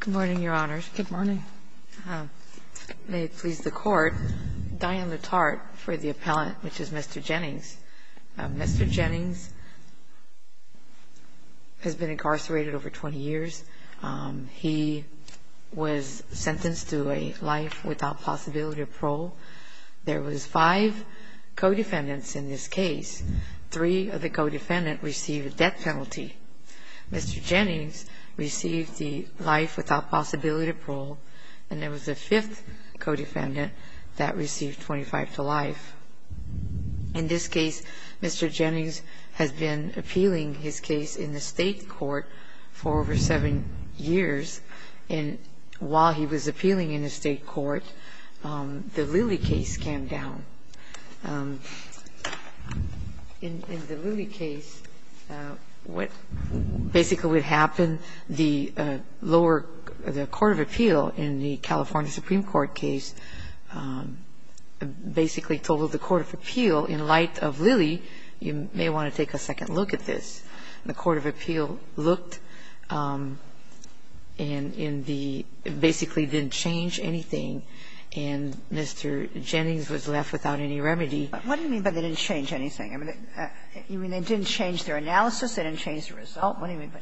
Good morning, your honors. May it please the court, Diane LaTarte for the appellant, which is Mr. Jennings. Mr. Jennings has been incarcerated over 20 years. He was sentenced to a life without possibility of parole. There was five co-defendants in this case. Three of the co-defendants received a death penalty. Mr. Jennings received the life without possibility of parole, and there was a fifth co-defendant that received 25 to life. In this case, Mr. Jennings has been appealing his case in the state court for over seven years, and while he was appealing in the state court, the Lilly case came down. In the Lilly case, what basically would happen, the lower the court of appeal in the California Supreme Court case basically told the court of appeal, in light of Lilly, you may want to take a second look at this. The court of appeal looked and in the basically didn't change anything, and Mr. Jennings was left without any remedy. But what do you mean by they didn't change anything? I mean, you mean they didn't change their analysis? They didn't change the result? What do you mean by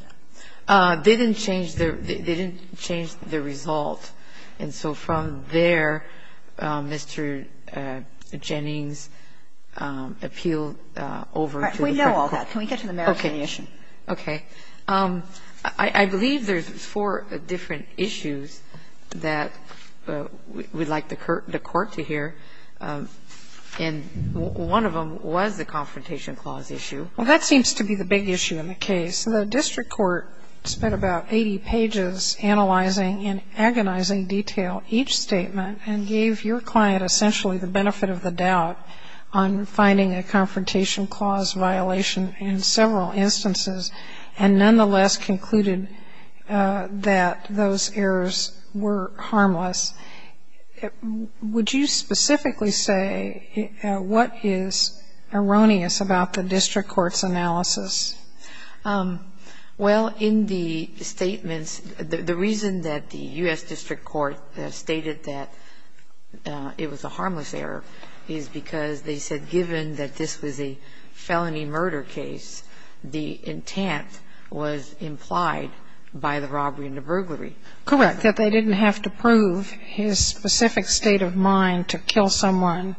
that? They didn't change their result. And so from there, Mr. Jennings appealed over to the court. All right. We know all that. Can we get to the merits of the issue? Okay. Okay. I believe there's four different issues that we'd like the court to hear. And one of them was the confrontation clause issue. Well, that seems to be the big issue in the case. The district court spent about 80 pages analyzing in agonizing detail each statement and gave your client essentially the benefit of the doubt on finding a confrontation clause violation in several instances, and nonetheless concluded that those errors were harmless. Would you specifically say what is erroneous about the district court's analysis? Well, in the statements, the reason that the U.S. district court stated that it was a harmless error is because they said given that this was a felony murder case, the intent was implied by the robbery and the burglary. Correct. That they didn't have to prove his specific state of mind to kill someone.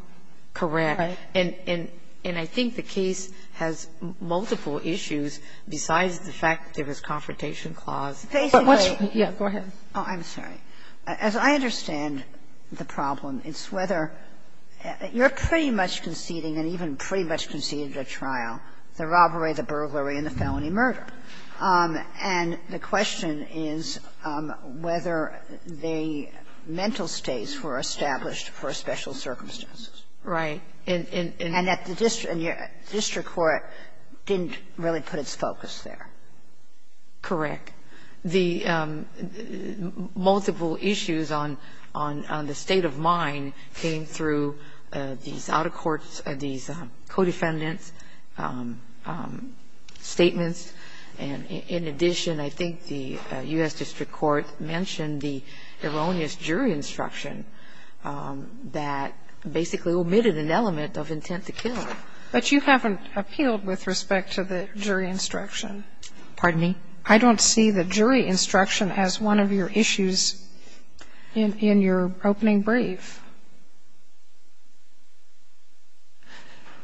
Correct. Right. And I think the case has multiple issues besides the fact that there was a confrontation clause. Basically what's the issue? Yeah. Go ahead. Oh, I'm sorry. As I understand the problem, it's whether you're pretty much conceding and even pretty much conceding the trial, the robbery, the burglary and the felony murder. And the question is whether the mental states were established for special circumstances. Right. And that the district court didn't really put its focus there. Correct. The multiple issues on the state of mind came through these out-of-courts, these co-defendants' statements, and in addition, I think the U.S. district court mentioned the erroneous jury instruction that basically omitted an element of intent to kill. But you haven't appealed with respect to the jury instruction. Pardon me? I don't see the jury instruction as one of your issues in your opening brief.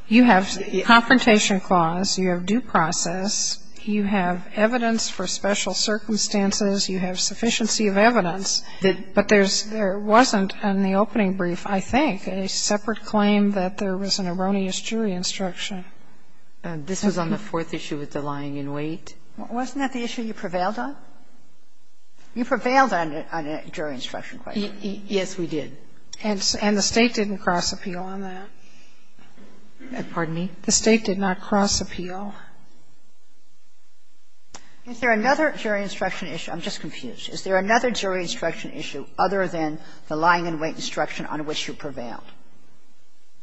You have confrontation clause, you have due process, you have evidence for special circumstances, you have sufficiency of evidence, but there wasn't in the opening brief, I think, a separate claim that there was an erroneous jury instruction. This was on the fourth issue with the lying in wait. Wasn't that the issue you prevailed on? You prevailed on a jury instruction question. Yes, we did. And the State didn't cross-appeal on that. Pardon me? The State did not cross-appeal. Is there another jury instruction issue? I'm just confused. Is there another jury instruction issue other than the lying in wait instruction on which you prevailed?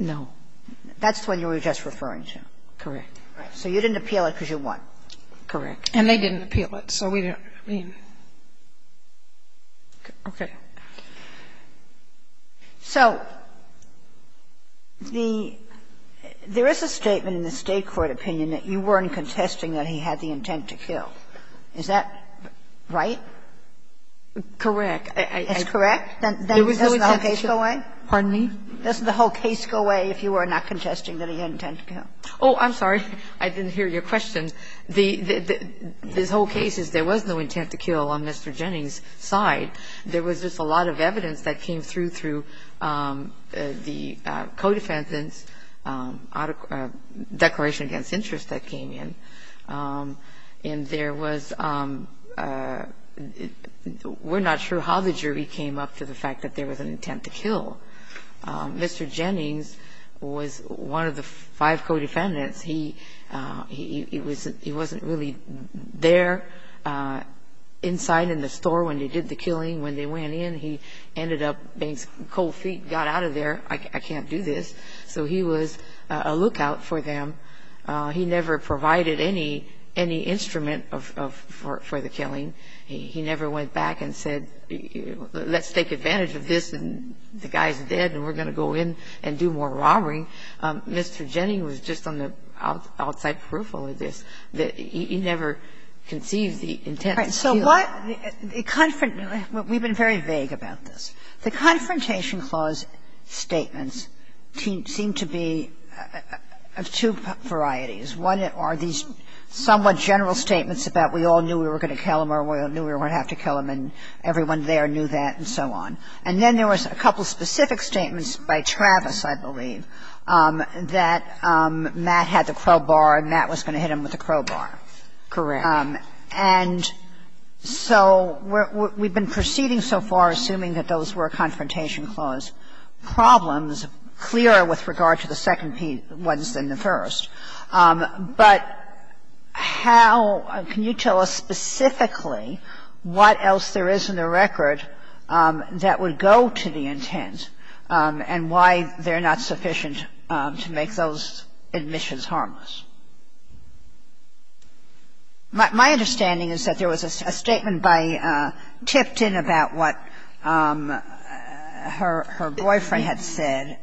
No. That's the one you were just referring to. Correct. So you didn't appeal it because you won. Correct. And they didn't appeal it, so we didn't. Okay. So there is a statement in the State court opinion that you weren't contesting that he had the intent to kill. Is that right? Correct. It's correct? Then doesn't the whole case go away? Pardon me? Doesn't the whole case go away if you were not contesting that he had intent to kill? Oh, I'm sorry. I didn't hear your question. The whole case is there was no intent to kill on Mr. Jennings' side. There was just a lot of evidence that came through through the co-defendants' declaration against interest that came in. And there was we're not sure how the jury came up to the fact that there was an intent to kill. Mr. Jennings was one of the five co-defendants. He wasn't really there inside in the store when they did the killing. When they went in, he ended up being cold feet, got out of there. I can't do this. So he was a lookout for them. He never provided any instrument for the killing. He never went back and said, let's take advantage of this, and the guy is dead, and we're going to go in and do more robbery. And I think Mr. Jennings was just on the outside peripheral of this, that he never conceived the intent to kill. All right. So what the confront we've been very vague about this. The Confrontation Clause statements seem to be of two varieties. One are these somewhat general statements about we all knew we were going to kill him, or we all knew we were going to have to kill him, and everyone there knew that and so on. And then there was a couple of specific statements by Travis, I believe, that Matt had the crowbar and Matt was going to hit him with the crowbar. Correct. And so we've been proceeding so far assuming that those were Confrontation Clause problems clearer with regard to the second ones than the first. But how can you tell us specifically what else there is in the record that would go to the intent and why they're not sufficient to make those admissions harmless? My understanding is that there was a statement by Tipton about what her boyfriend had said.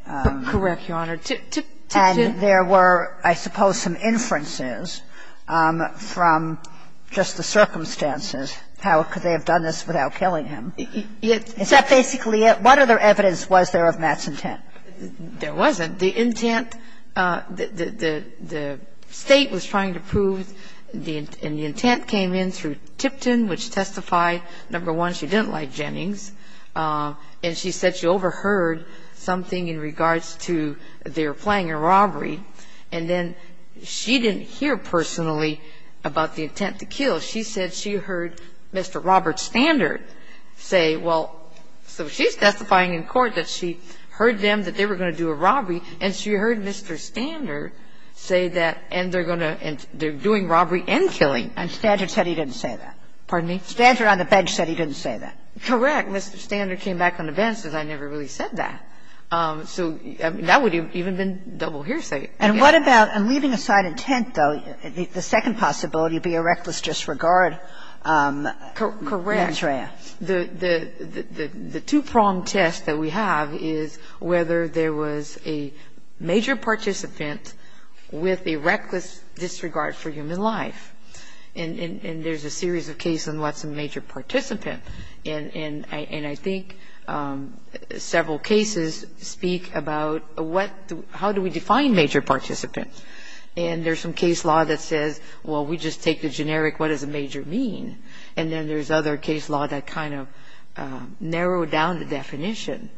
Correct, Your Honor. Tipton. And there were, I suppose, some inferences from just the circumstances how could they have done this without killing him. Is that basically it? What other evidence was there of Matt's intent? There wasn't. The intent, the State was trying to prove, and the intent came in through Tipton, which testified, number one, she didn't like Jennings, and she said she overheard something in regards to their playing a robbery, and then she didn't hear personally about the intent to kill. She said she heard Mr. Robert Standard say, well, so she's testifying in court that she heard them that they were going to do a robbery, and she heard Mr. Standard say that, and they're going to, and they're doing robbery and killing. And Standard said he didn't say that. Pardon me? Standard on the bench said he didn't say that. Correct. Mr. Standard came back on the bench and said, I never really said that. So that would have even been double hearsay. And what about leaving aside intent, though, the second possibility would be a reckless disregard mantra. Correct. The two-pronged test that we have is whether there was a major participant with a reckless disregard for human life. And there's a series of cases on what's a major participant. And I think several cases speak about how do we define major participant. And there's some case law that says, well, we just take the generic what does a major mean, and then there's other case law that kind of narrowed down the definition.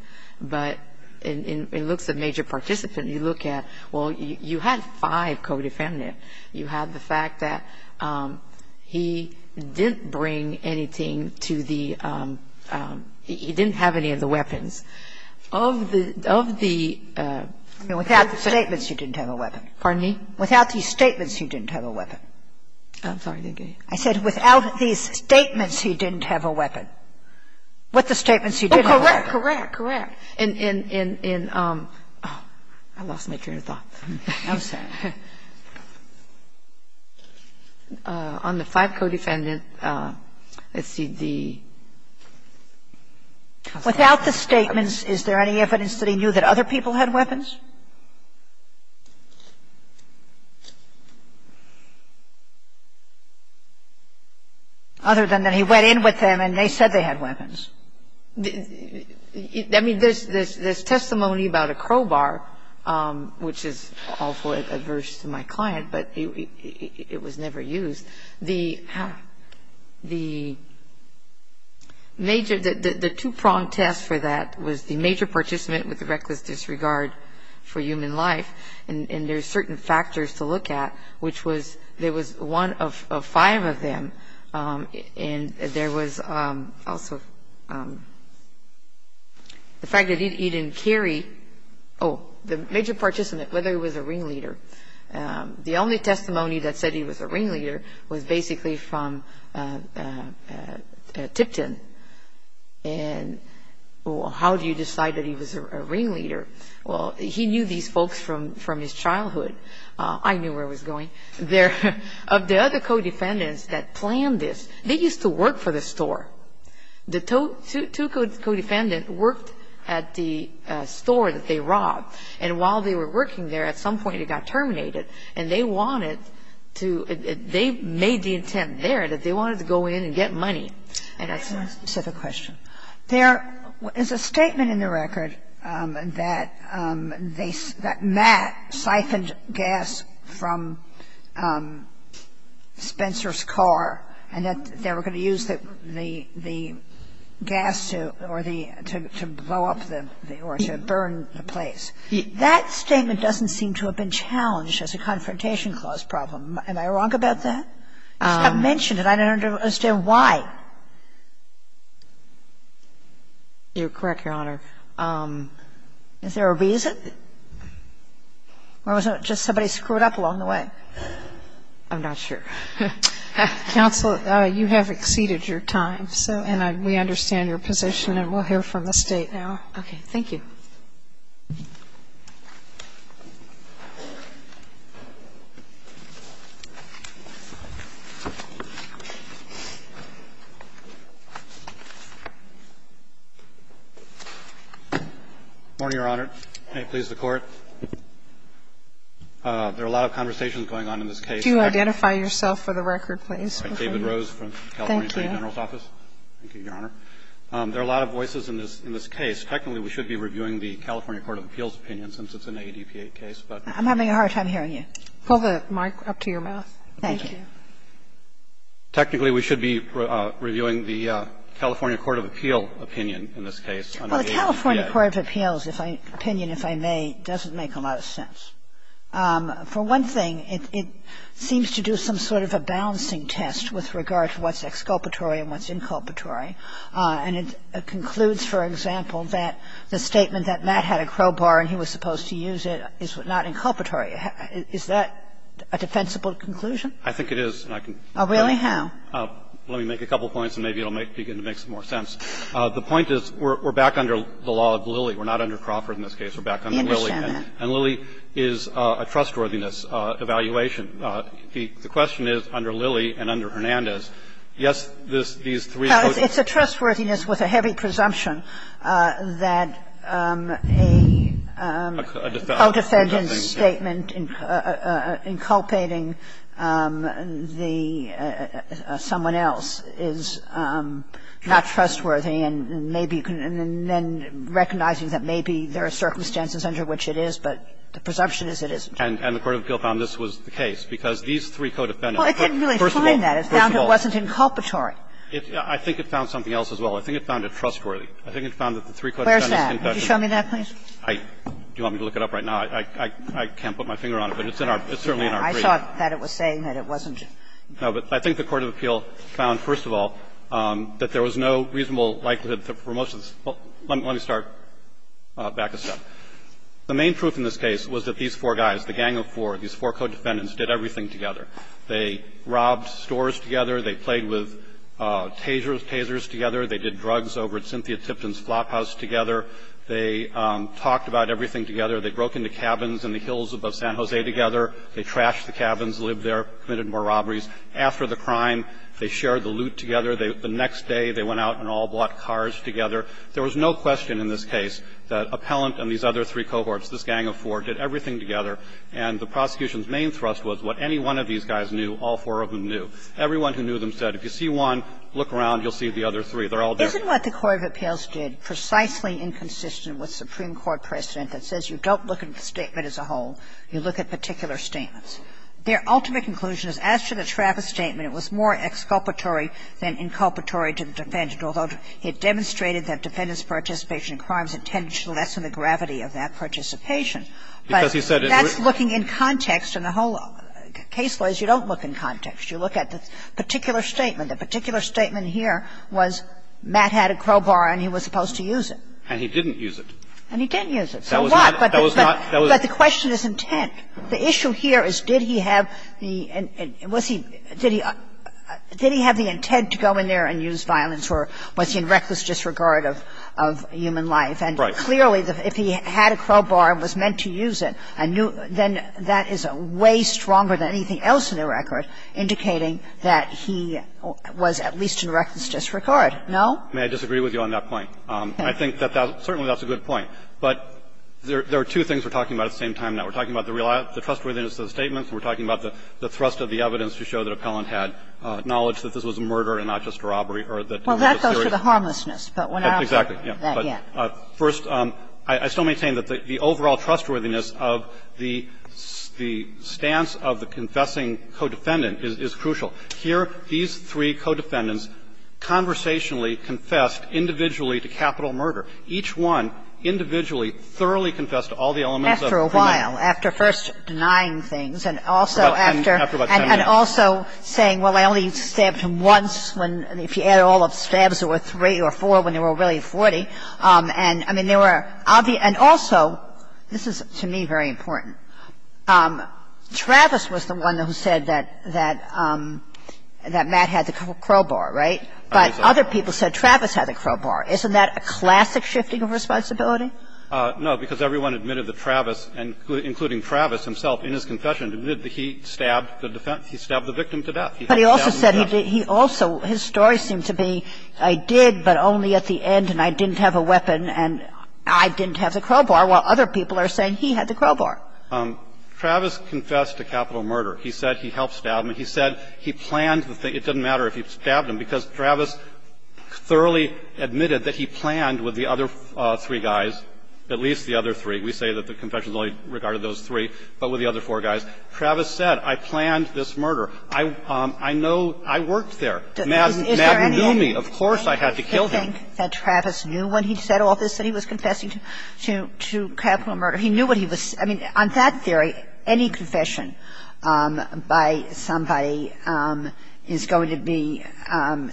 But it looks at major participant. You look at, well, you had five co-defendant. You had the fact that he didn't bring anything to the ‑‑ he didn't have any of the weapons. Of the ‑‑ Without the statements, he didn't have a weapon. Pardon me? Without these statements, he didn't have a weapon. I'm sorry. I said without these statements, he didn't have a weapon. With the statements, he didn't have a weapon. Correct. Correct. Correct. In ‑‑ I lost my train of thought. I'm sorry. On the five co-defendant, let's see, the ‑‑ Without the statements, is there any evidence that he knew that other people had weapons? Other than that he went in with them and they said they had weapons. I mean, there's testimony about a crowbar, which is awfully adverse to my client, but it was never used. The major ‑‑ the two‑pronged test for that was the major participant with the reckless disregard for human life. And there's certain factors to look at, which was there was one of five of them, and there was also the fact that he didn't carry, oh, the major participant, whether he was a ringleader. The only testimony that said he was a ringleader was basically from Tipton. And how do you decide that he was a ringleader? Well, he knew these folks from his childhood. I knew where I was going. The other co‑defendants that planned this, they used to work for the store. The two co‑defendants worked at the store that they robbed. And while they were working there, at some point it got terminated, and they wanted to ‑‑ they made the intent there that they wanted to go in and get money. And that's my specific question. There is a statement in the record that Matt siphoned gas from Spencer's car and that they were going to use the gas to blow up or to burn the place. That statement doesn't seem to have been challenged as a Confrontation Clause problem. Am I wrong about that? You mentioned it. I don't understand why. You're correct, Your Honor. Is there a reason? Or was it just somebody screwed up along the way? I'm not sure. Counsel, you have exceeded your time. And we understand your position, and we'll hear from the State now. Okay. Thank you. Morning, Your Honor. May it please the Court. There are a lot of conversations going on in this case. Could you identify yourself for the record, please? I'm David Rose from the California Attorney General's Office. Thank you. Thank you, Your Honor. There are a lot of voices in this case. Technically, we should be reviewing the California Court of Appeals opinion since it's an ADP-8 case, but we can't. I'm having a hard time hearing you. Pull the mic up to your mouth. Thank you. Technically, we should be reviewing the California Court of Appeals opinion in this case. Well, the California Court of Appeals opinion, if I may, doesn't make a lot of sense. For one thing, it seems to do some sort of a balancing test with regard to what's exculpatory and what's inculpatory. And it concludes, for example, that the statement that Matt had a crowbar and he was supposed to use it is not inculpatory. Is that a defensible conclusion? I think it is. Really? How? Let me make a couple points and maybe it will begin to make some more sense. The point is we're back under the law of Lilly. We're not under Crawford in this case. We're back under Lilly. I understand that. And Lilly is a trustworthiness evaluation. The question is, under Lilly and under Hernandez, yes, these three quotations are inculpatory. It's a trustworthiness with a heavy presumption that a co-defendant's statement inculpating the ---- someone else is not trustworthy and maybe you can then recognize that maybe there are circumstances under which it is, but the presumption is it isn't. And the court of appeals found this was the case, because these three co-defendants didn't really find that. Well, it didn't really find that. It found it wasn't inculpatory. I think it found something else as well. I think it found it trustworthy. I think it found that the three co-defendants confessed. Where's that? Could you show me that, please? Do you want me to look it up right now? I can't put my finger on it, but it's certainly in our brief. I thought that it was saying that it wasn't. No, but I think the court of appeal found, first of all, that there was no reasonable likelihood for most of the ---- let me start back a step. The main proof in this case was that these four guys, the gang of four, these four co-defendants, did everything together. They robbed stores together. They played with tasers together. They did drugs over at Cynthia Tipton's Flophouse together. They talked about everything together. They broke into cabins in the hills above San Jose together. They trashed the cabins, lived there, committed more robberies. After the crime, they shared the loot together. The next day, they went out and all bought cars together. There was no question in this case that Appellant and these other three cohorts, this gang of four, did everything together. And the prosecution's main thrust was what any one of these guys knew, all four of them knew. Everyone who knew them said, if you see one, look around. You'll see the other three. They're all there. Kagan. Isn't what the court of appeals did precisely inconsistent with Supreme Court precedent that says you don't look at the statement as a whole, you look at particular statements? Their ultimate conclusion is, as to the Travis statement, it was more exculpatory than inculpatory to the defendant, although it demonstrated that defendants' participation in crimes tended to lessen the gravity of that participation. But that's looking in context, and the whole case law is you don't look in context. You look at the particular statement. The particular statement here was Matt had a crowbar and he was supposed to use it. And he didn't use it. And he didn't use it. So what? But the question is intent. The issue here is did he have the intent to go in there and use violence, or was he in reckless disregard of human life? Right. So clearly, if he had a crowbar and was meant to use it, then that is way stronger than anything else in the record indicating that he was at least in reckless disregard. No? May I disagree with you on that point? I think that that's certainly a good point. But there are two things we're talking about at the same time now. We're talking about the trustworthiness of the statements, and we're talking about the thrust of the evidence to show that Appellant had knowledge that this was a murder and not just a robbery, or that it was a serious crime. Well, that goes to the harmlessness. Exactly. But first, I still maintain that the overall trustworthiness of the stance of the confessing co-defendant is crucial. Here, these three co-defendants conversationally confessed individually to capital murder. Each one individually thoroughly confessed to all the elements of the murder. After a while, after first denying things and also after. After about 10 minutes. And also saying, well, I only stabbed him once when, if you add all of the stabs to it, I only stabbed him twice or three or four when there were really 40. And I mean, there were obvious – and also, this is, to me, very important. Travis was the one who said that Matt had the crowbar, right? But other people said Travis had the crowbar. Isn't that a classic shifting of responsibility? No, because everyone admitted that Travis, including Travis himself, in his confession admitted that he stabbed the victim to death. But he also said he also – his story seemed to be, I did, but only at the end, and I didn't have a weapon, and I didn't have the crowbar, while other people are saying he had the crowbar. Travis confessed to capital murder. He said he helped stab him. He said he planned the thing. It doesn't matter if he stabbed him, because Travis thoroughly admitted that he planned with the other three guys, at least the other three. We say that the confessions only regarded those three, but with the other four guys. Travis said, I planned this murder. I know – I worked there. Matt didn't do me. Of course I had to kill him. Do you think that Travis knew when he said all this that he was confessing to capital murder? He knew what he was – I mean, on that theory, any confession by somebody is going to be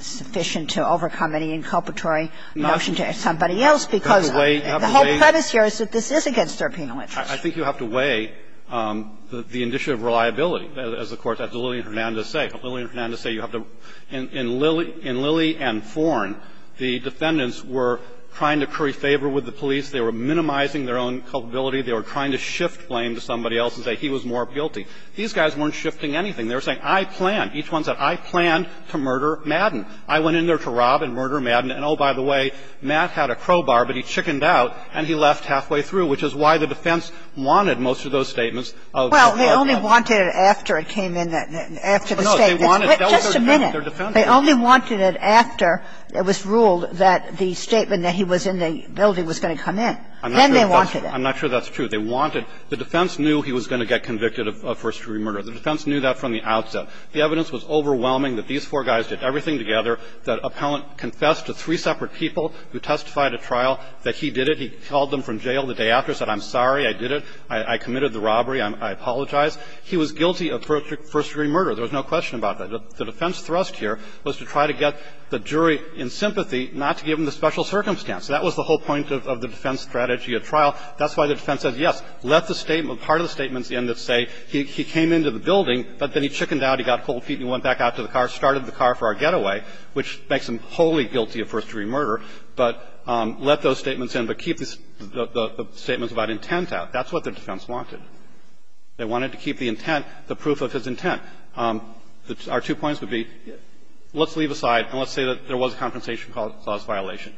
sufficient to overcome any inculpatory notion to somebody else, because the whole premise here is that this is against their penal interest. I think you have to weigh the issue of reliability, as the courts, as Lillian Hernandez say. Lillian Hernandez say you have to – in Lillie and Forn, the defendants were trying to curry favor with the police. They were minimizing their own culpability. They were trying to shift blame to somebody else and say he was more guilty. These guys weren't shifting anything. They were saying, I planned. Each one said, I planned to murder Madden. I went in there to rob and murder Madden. And oh, by the way, Matt had a crowbar, but he chickened out, and he left halfway through, which is why the defense wanted most of those statements of the robbery. Well, they only wanted it after it came in, after the statement. No, they wanted it. Just a minute. They only wanted it after it was ruled that the statement that he was in the building was going to come in. Then they wanted it. I'm not sure that's true. They wanted – the defense knew he was going to get convicted of first-degree murder. The defense knew that from the outset. The evidence was overwhelming that these four guys did everything together. That appellant confessed to three separate people who testified at trial that he did it. He called them from jail the day after, said, I'm sorry, I did it. I committed the robbery. I apologize. He was guilty of first-degree murder. There was no question about that. The defense thrust here was to try to get the jury in sympathy, not to give him the special circumstance. That was the whole point of the defense strategy at trial. That's why the defense said, yes, let the statement – part of the statements in that say he came into the building, but then he chickened out, he got cold feet, and he went back out to the car, started the car for our getaway, which makes him wholly guilty of first-degree murder. But let those statements in, but keep the statements about intent out. That's what the defense wanted. They wanted to keep the intent, the proof of his intent. Our two points would be, let's leave aside and let's say that there was a compensation clause violation.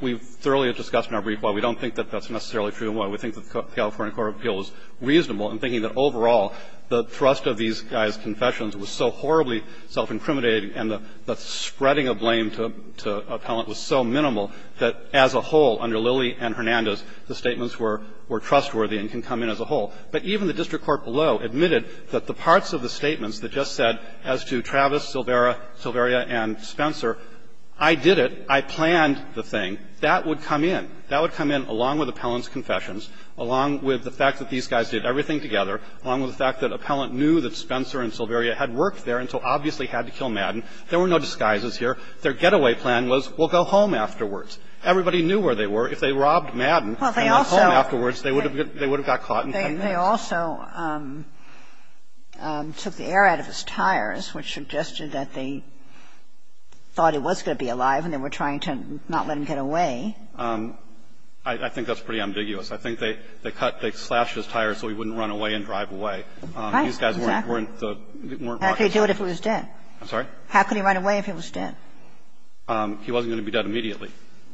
We've thoroughly discussed in our brief why we don't think that that's necessarily true, and why we think that the California Court of Appeals is reasonable in thinking that overall the thrust of these guys' confessions was so horribly self-incriminating and the spreading of blame to Appellant was so minimal that, as a whole, under Lilley and Hernandez, the statements were trustworthy and can come in as a whole. But even the district court below admitted that the parts of the statements that just said as to Travis, Silvera, Silveria, and Spencer, I did it, I planned the thing, that would come in. That would come in along with Appellant's confessions, along with the fact that these guys did everything together, along with the fact that Appellant knew that Spencer and Silveria had worked there and so obviously had to kill Madden. There were no disguises here. Their getaway plan was, we'll go home afterwards. Everybody knew where they were. If they robbed Madden and went home afterwards, they would have got caught in 10 minutes. Kagan. They also took the air out of his tires, which suggested that they thought it was going to be alive and they were trying to not let him get away. I think that's pretty ambiguous. I think they cut, they slashed his tires so he wouldn't run away and drive away. Right, exactly. These guys weren't, weren't the, weren't walking. How could he do it if he was dead? I'm sorry? How could he run away if he was dead? He wasn't going to be dead immediately.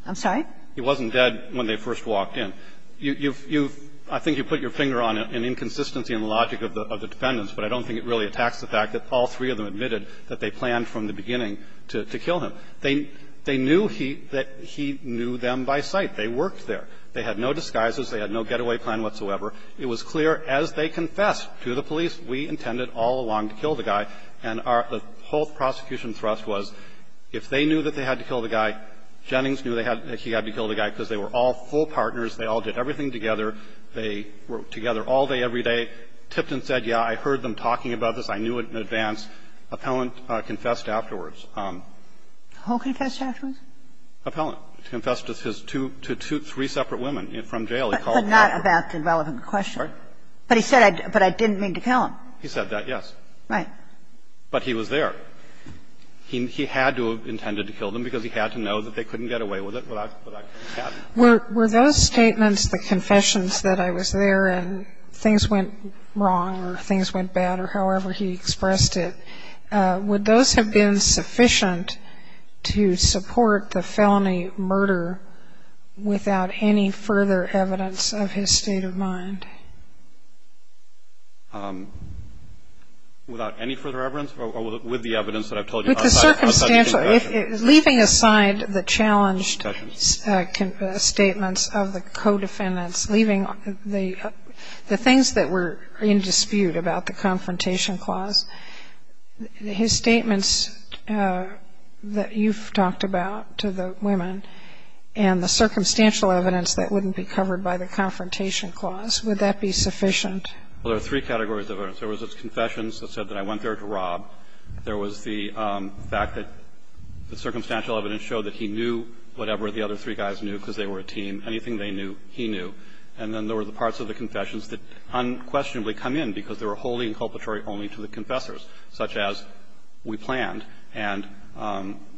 I'm sorry? He wasn't dead when they first walked in. You've, you've, I think you put your finger on an inconsistency in the logic of the defendants, but I don't think it really attacks the fact that all three of them admitted that they planned from the beginning to kill him. They, they knew he, that he knew them by sight. They worked there. They had no disguises. They had no getaway plan whatsoever. It was clear as they confessed to the police, we intended all along to kill the guy. And our, the whole prosecution thrust was, if they knew that they had to kill the guy, Jennings knew they had, he had to kill the guy because they were all full partners. They all did everything together. They were together all day, every day. Tipton said, yeah, I heard them talking about this. I knew it in advance. Appellant confessed afterwards. Who confessed afterwards? Appellant. He confessed to his two, to two, three separate women from jail. He said, I didn't mean to kill him. He said that, yes. Right. But he was there. He, he had to have intended to kill them because he had to know that they couldn't get away with it without, without having to. Were, were those statements, the confessions that I was there and things went wrong or things went bad or however he expressed it, would those have been sufficient to support the felony murder without any further evidence of his state of mind? Without any further evidence or with the evidence that I've told you? With the circumstantial, leaving aside the challenged statements of the co-defendants, leaving the, the things that were in dispute about the confrontation clause, his statements that you've talked about to the women and the circumstantial evidence that wouldn't be covered by the confrontation clause, would that be sufficient? Well, there are three categories of evidence. There was his confessions that said that I went there to rob. There was the fact that the circumstantial evidence showed that he knew whatever the other three guys knew because they were a team. Anything they knew, he knew. And then there were the parts of the confessions that unquestionably come in because they were wholly inculpatory only to the confessors, such as we planned and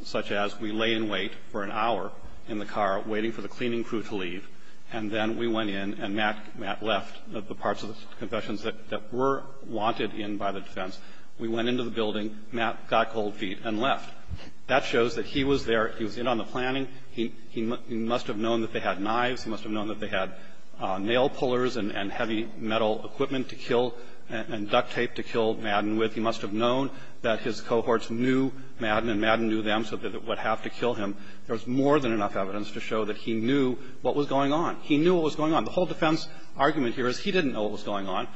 such as we lay in wait for an hour in the car waiting for the cleaning crew to leave, and then we went in and Matt, Matt left the parts of the confessions that, that were wanted in by the defense. We went into the building. Matt got cold feet and left. That shows that he was there. He was in on the planning. He, he must have known that they had knives. He must have known that they had nail pullers and, and heavy metal equipment to kill and duct tape to kill Madden with. He must have known that his cohorts knew Madden and Madden knew them, so that it would have to kill him. There was more than enough evidence to show that he knew what was going on. He knew what was going on. The whole defense argument here is he didn't know what was going on.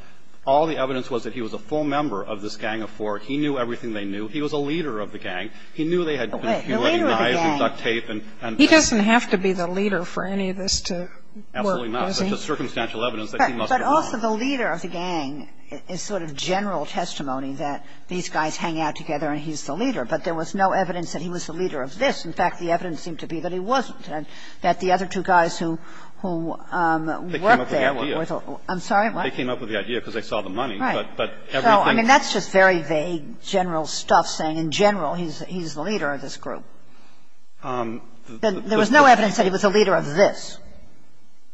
All the evidence was that he was a full member of this gang of four. He knew everything they knew. He was a leader of the gang. He knew they had confused knives and duct tape and. He doesn't have to be the leader for any of this to work, does he? Absolutely not. It's just circumstantial evidence that he must have known. But, but also the leader of the gang is sort of general testimony that these guys hang out together and he's the leader. But there was no evidence that he was the leader of this. In fact, the evidence seemed to be that he wasn't and that the other two guys who, who worked there. They came up with the idea. I'm sorry, what? They came up with the idea because they saw the money. Right. But, but everything. So, I mean, that's just very vague general stuff saying in general he's, he's the leader of this group. There was no evidence that he was the leader of this.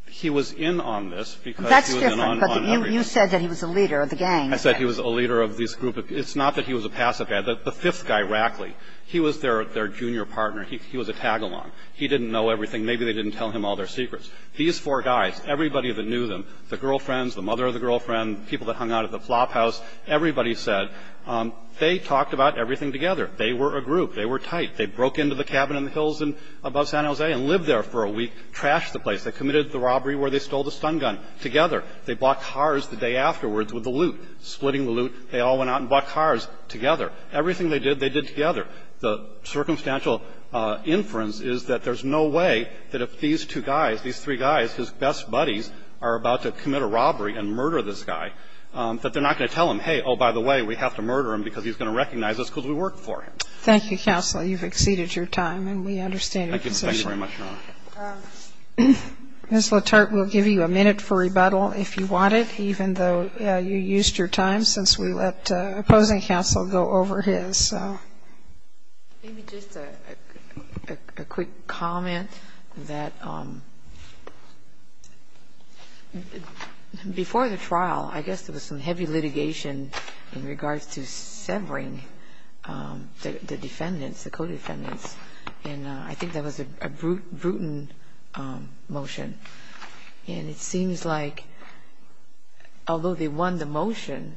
He was in on this because. That's different. But you, you said that he was the leader of the gang. I said he was a leader of this group. It's not that he was a passive guy. The fifth guy, Rackley, he was their, their junior partner. He, he was a tag along. He didn't know everything. Maybe they didn't tell him all their secrets. These four guys, everybody that knew them, the girlfriends, the mother of the girlfriend, people that hung out at the flop house, everybody said they talked about everything together. They were a group. They were tight. They broke into the cabin in the hills above San Jose and lived there for a week, trashed the place. They committed the robbery where they stole the stun gun together. They bought cars the day afterwards with the loot. Splitting the loot, they all went out and bought cars together. Everything they did, they did together. The circumstantial inference is that there's no way that if these two guys, these three guys, his best buddies are about to commit a robbery and murder this guy, that they're not going to tell him, hey, oh, by the way, we have to murder him because he's going to recognize us because we worked for him. Thank you, counsel. You've exceeded your time, and we understand your concern. Thank you very much, Your Honor. Ms. LaTorte will give you a minute for rebuttal if you want it, even though you used your time since we let opposing counsel go over his. Maybe just a quick comment that before the trial, I guess there was some heavy litigation in regards to severing the defendants, the co-defendants, and I think that was a brutal motion, and it seems like although they won the motion,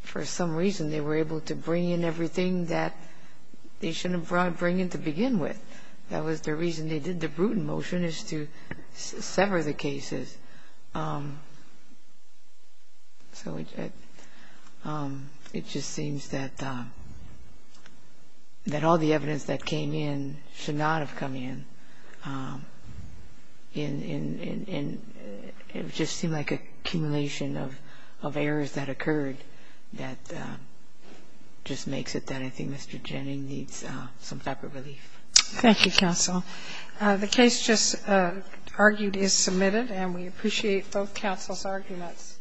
for some reason, they were able to bring in everything that they shouldn't have brought in to begin with. That was the reason they did the brutal motion is to sever the cases. So it just seems that all the evidence that came in should not have come in, and it just seemed like an accumulation of errors that occurred that just makes it that I think Mr. Jenning needs some type of relief. Thank you, counsel. The case just argued is submitted, and we appreciate both counsel's arguments.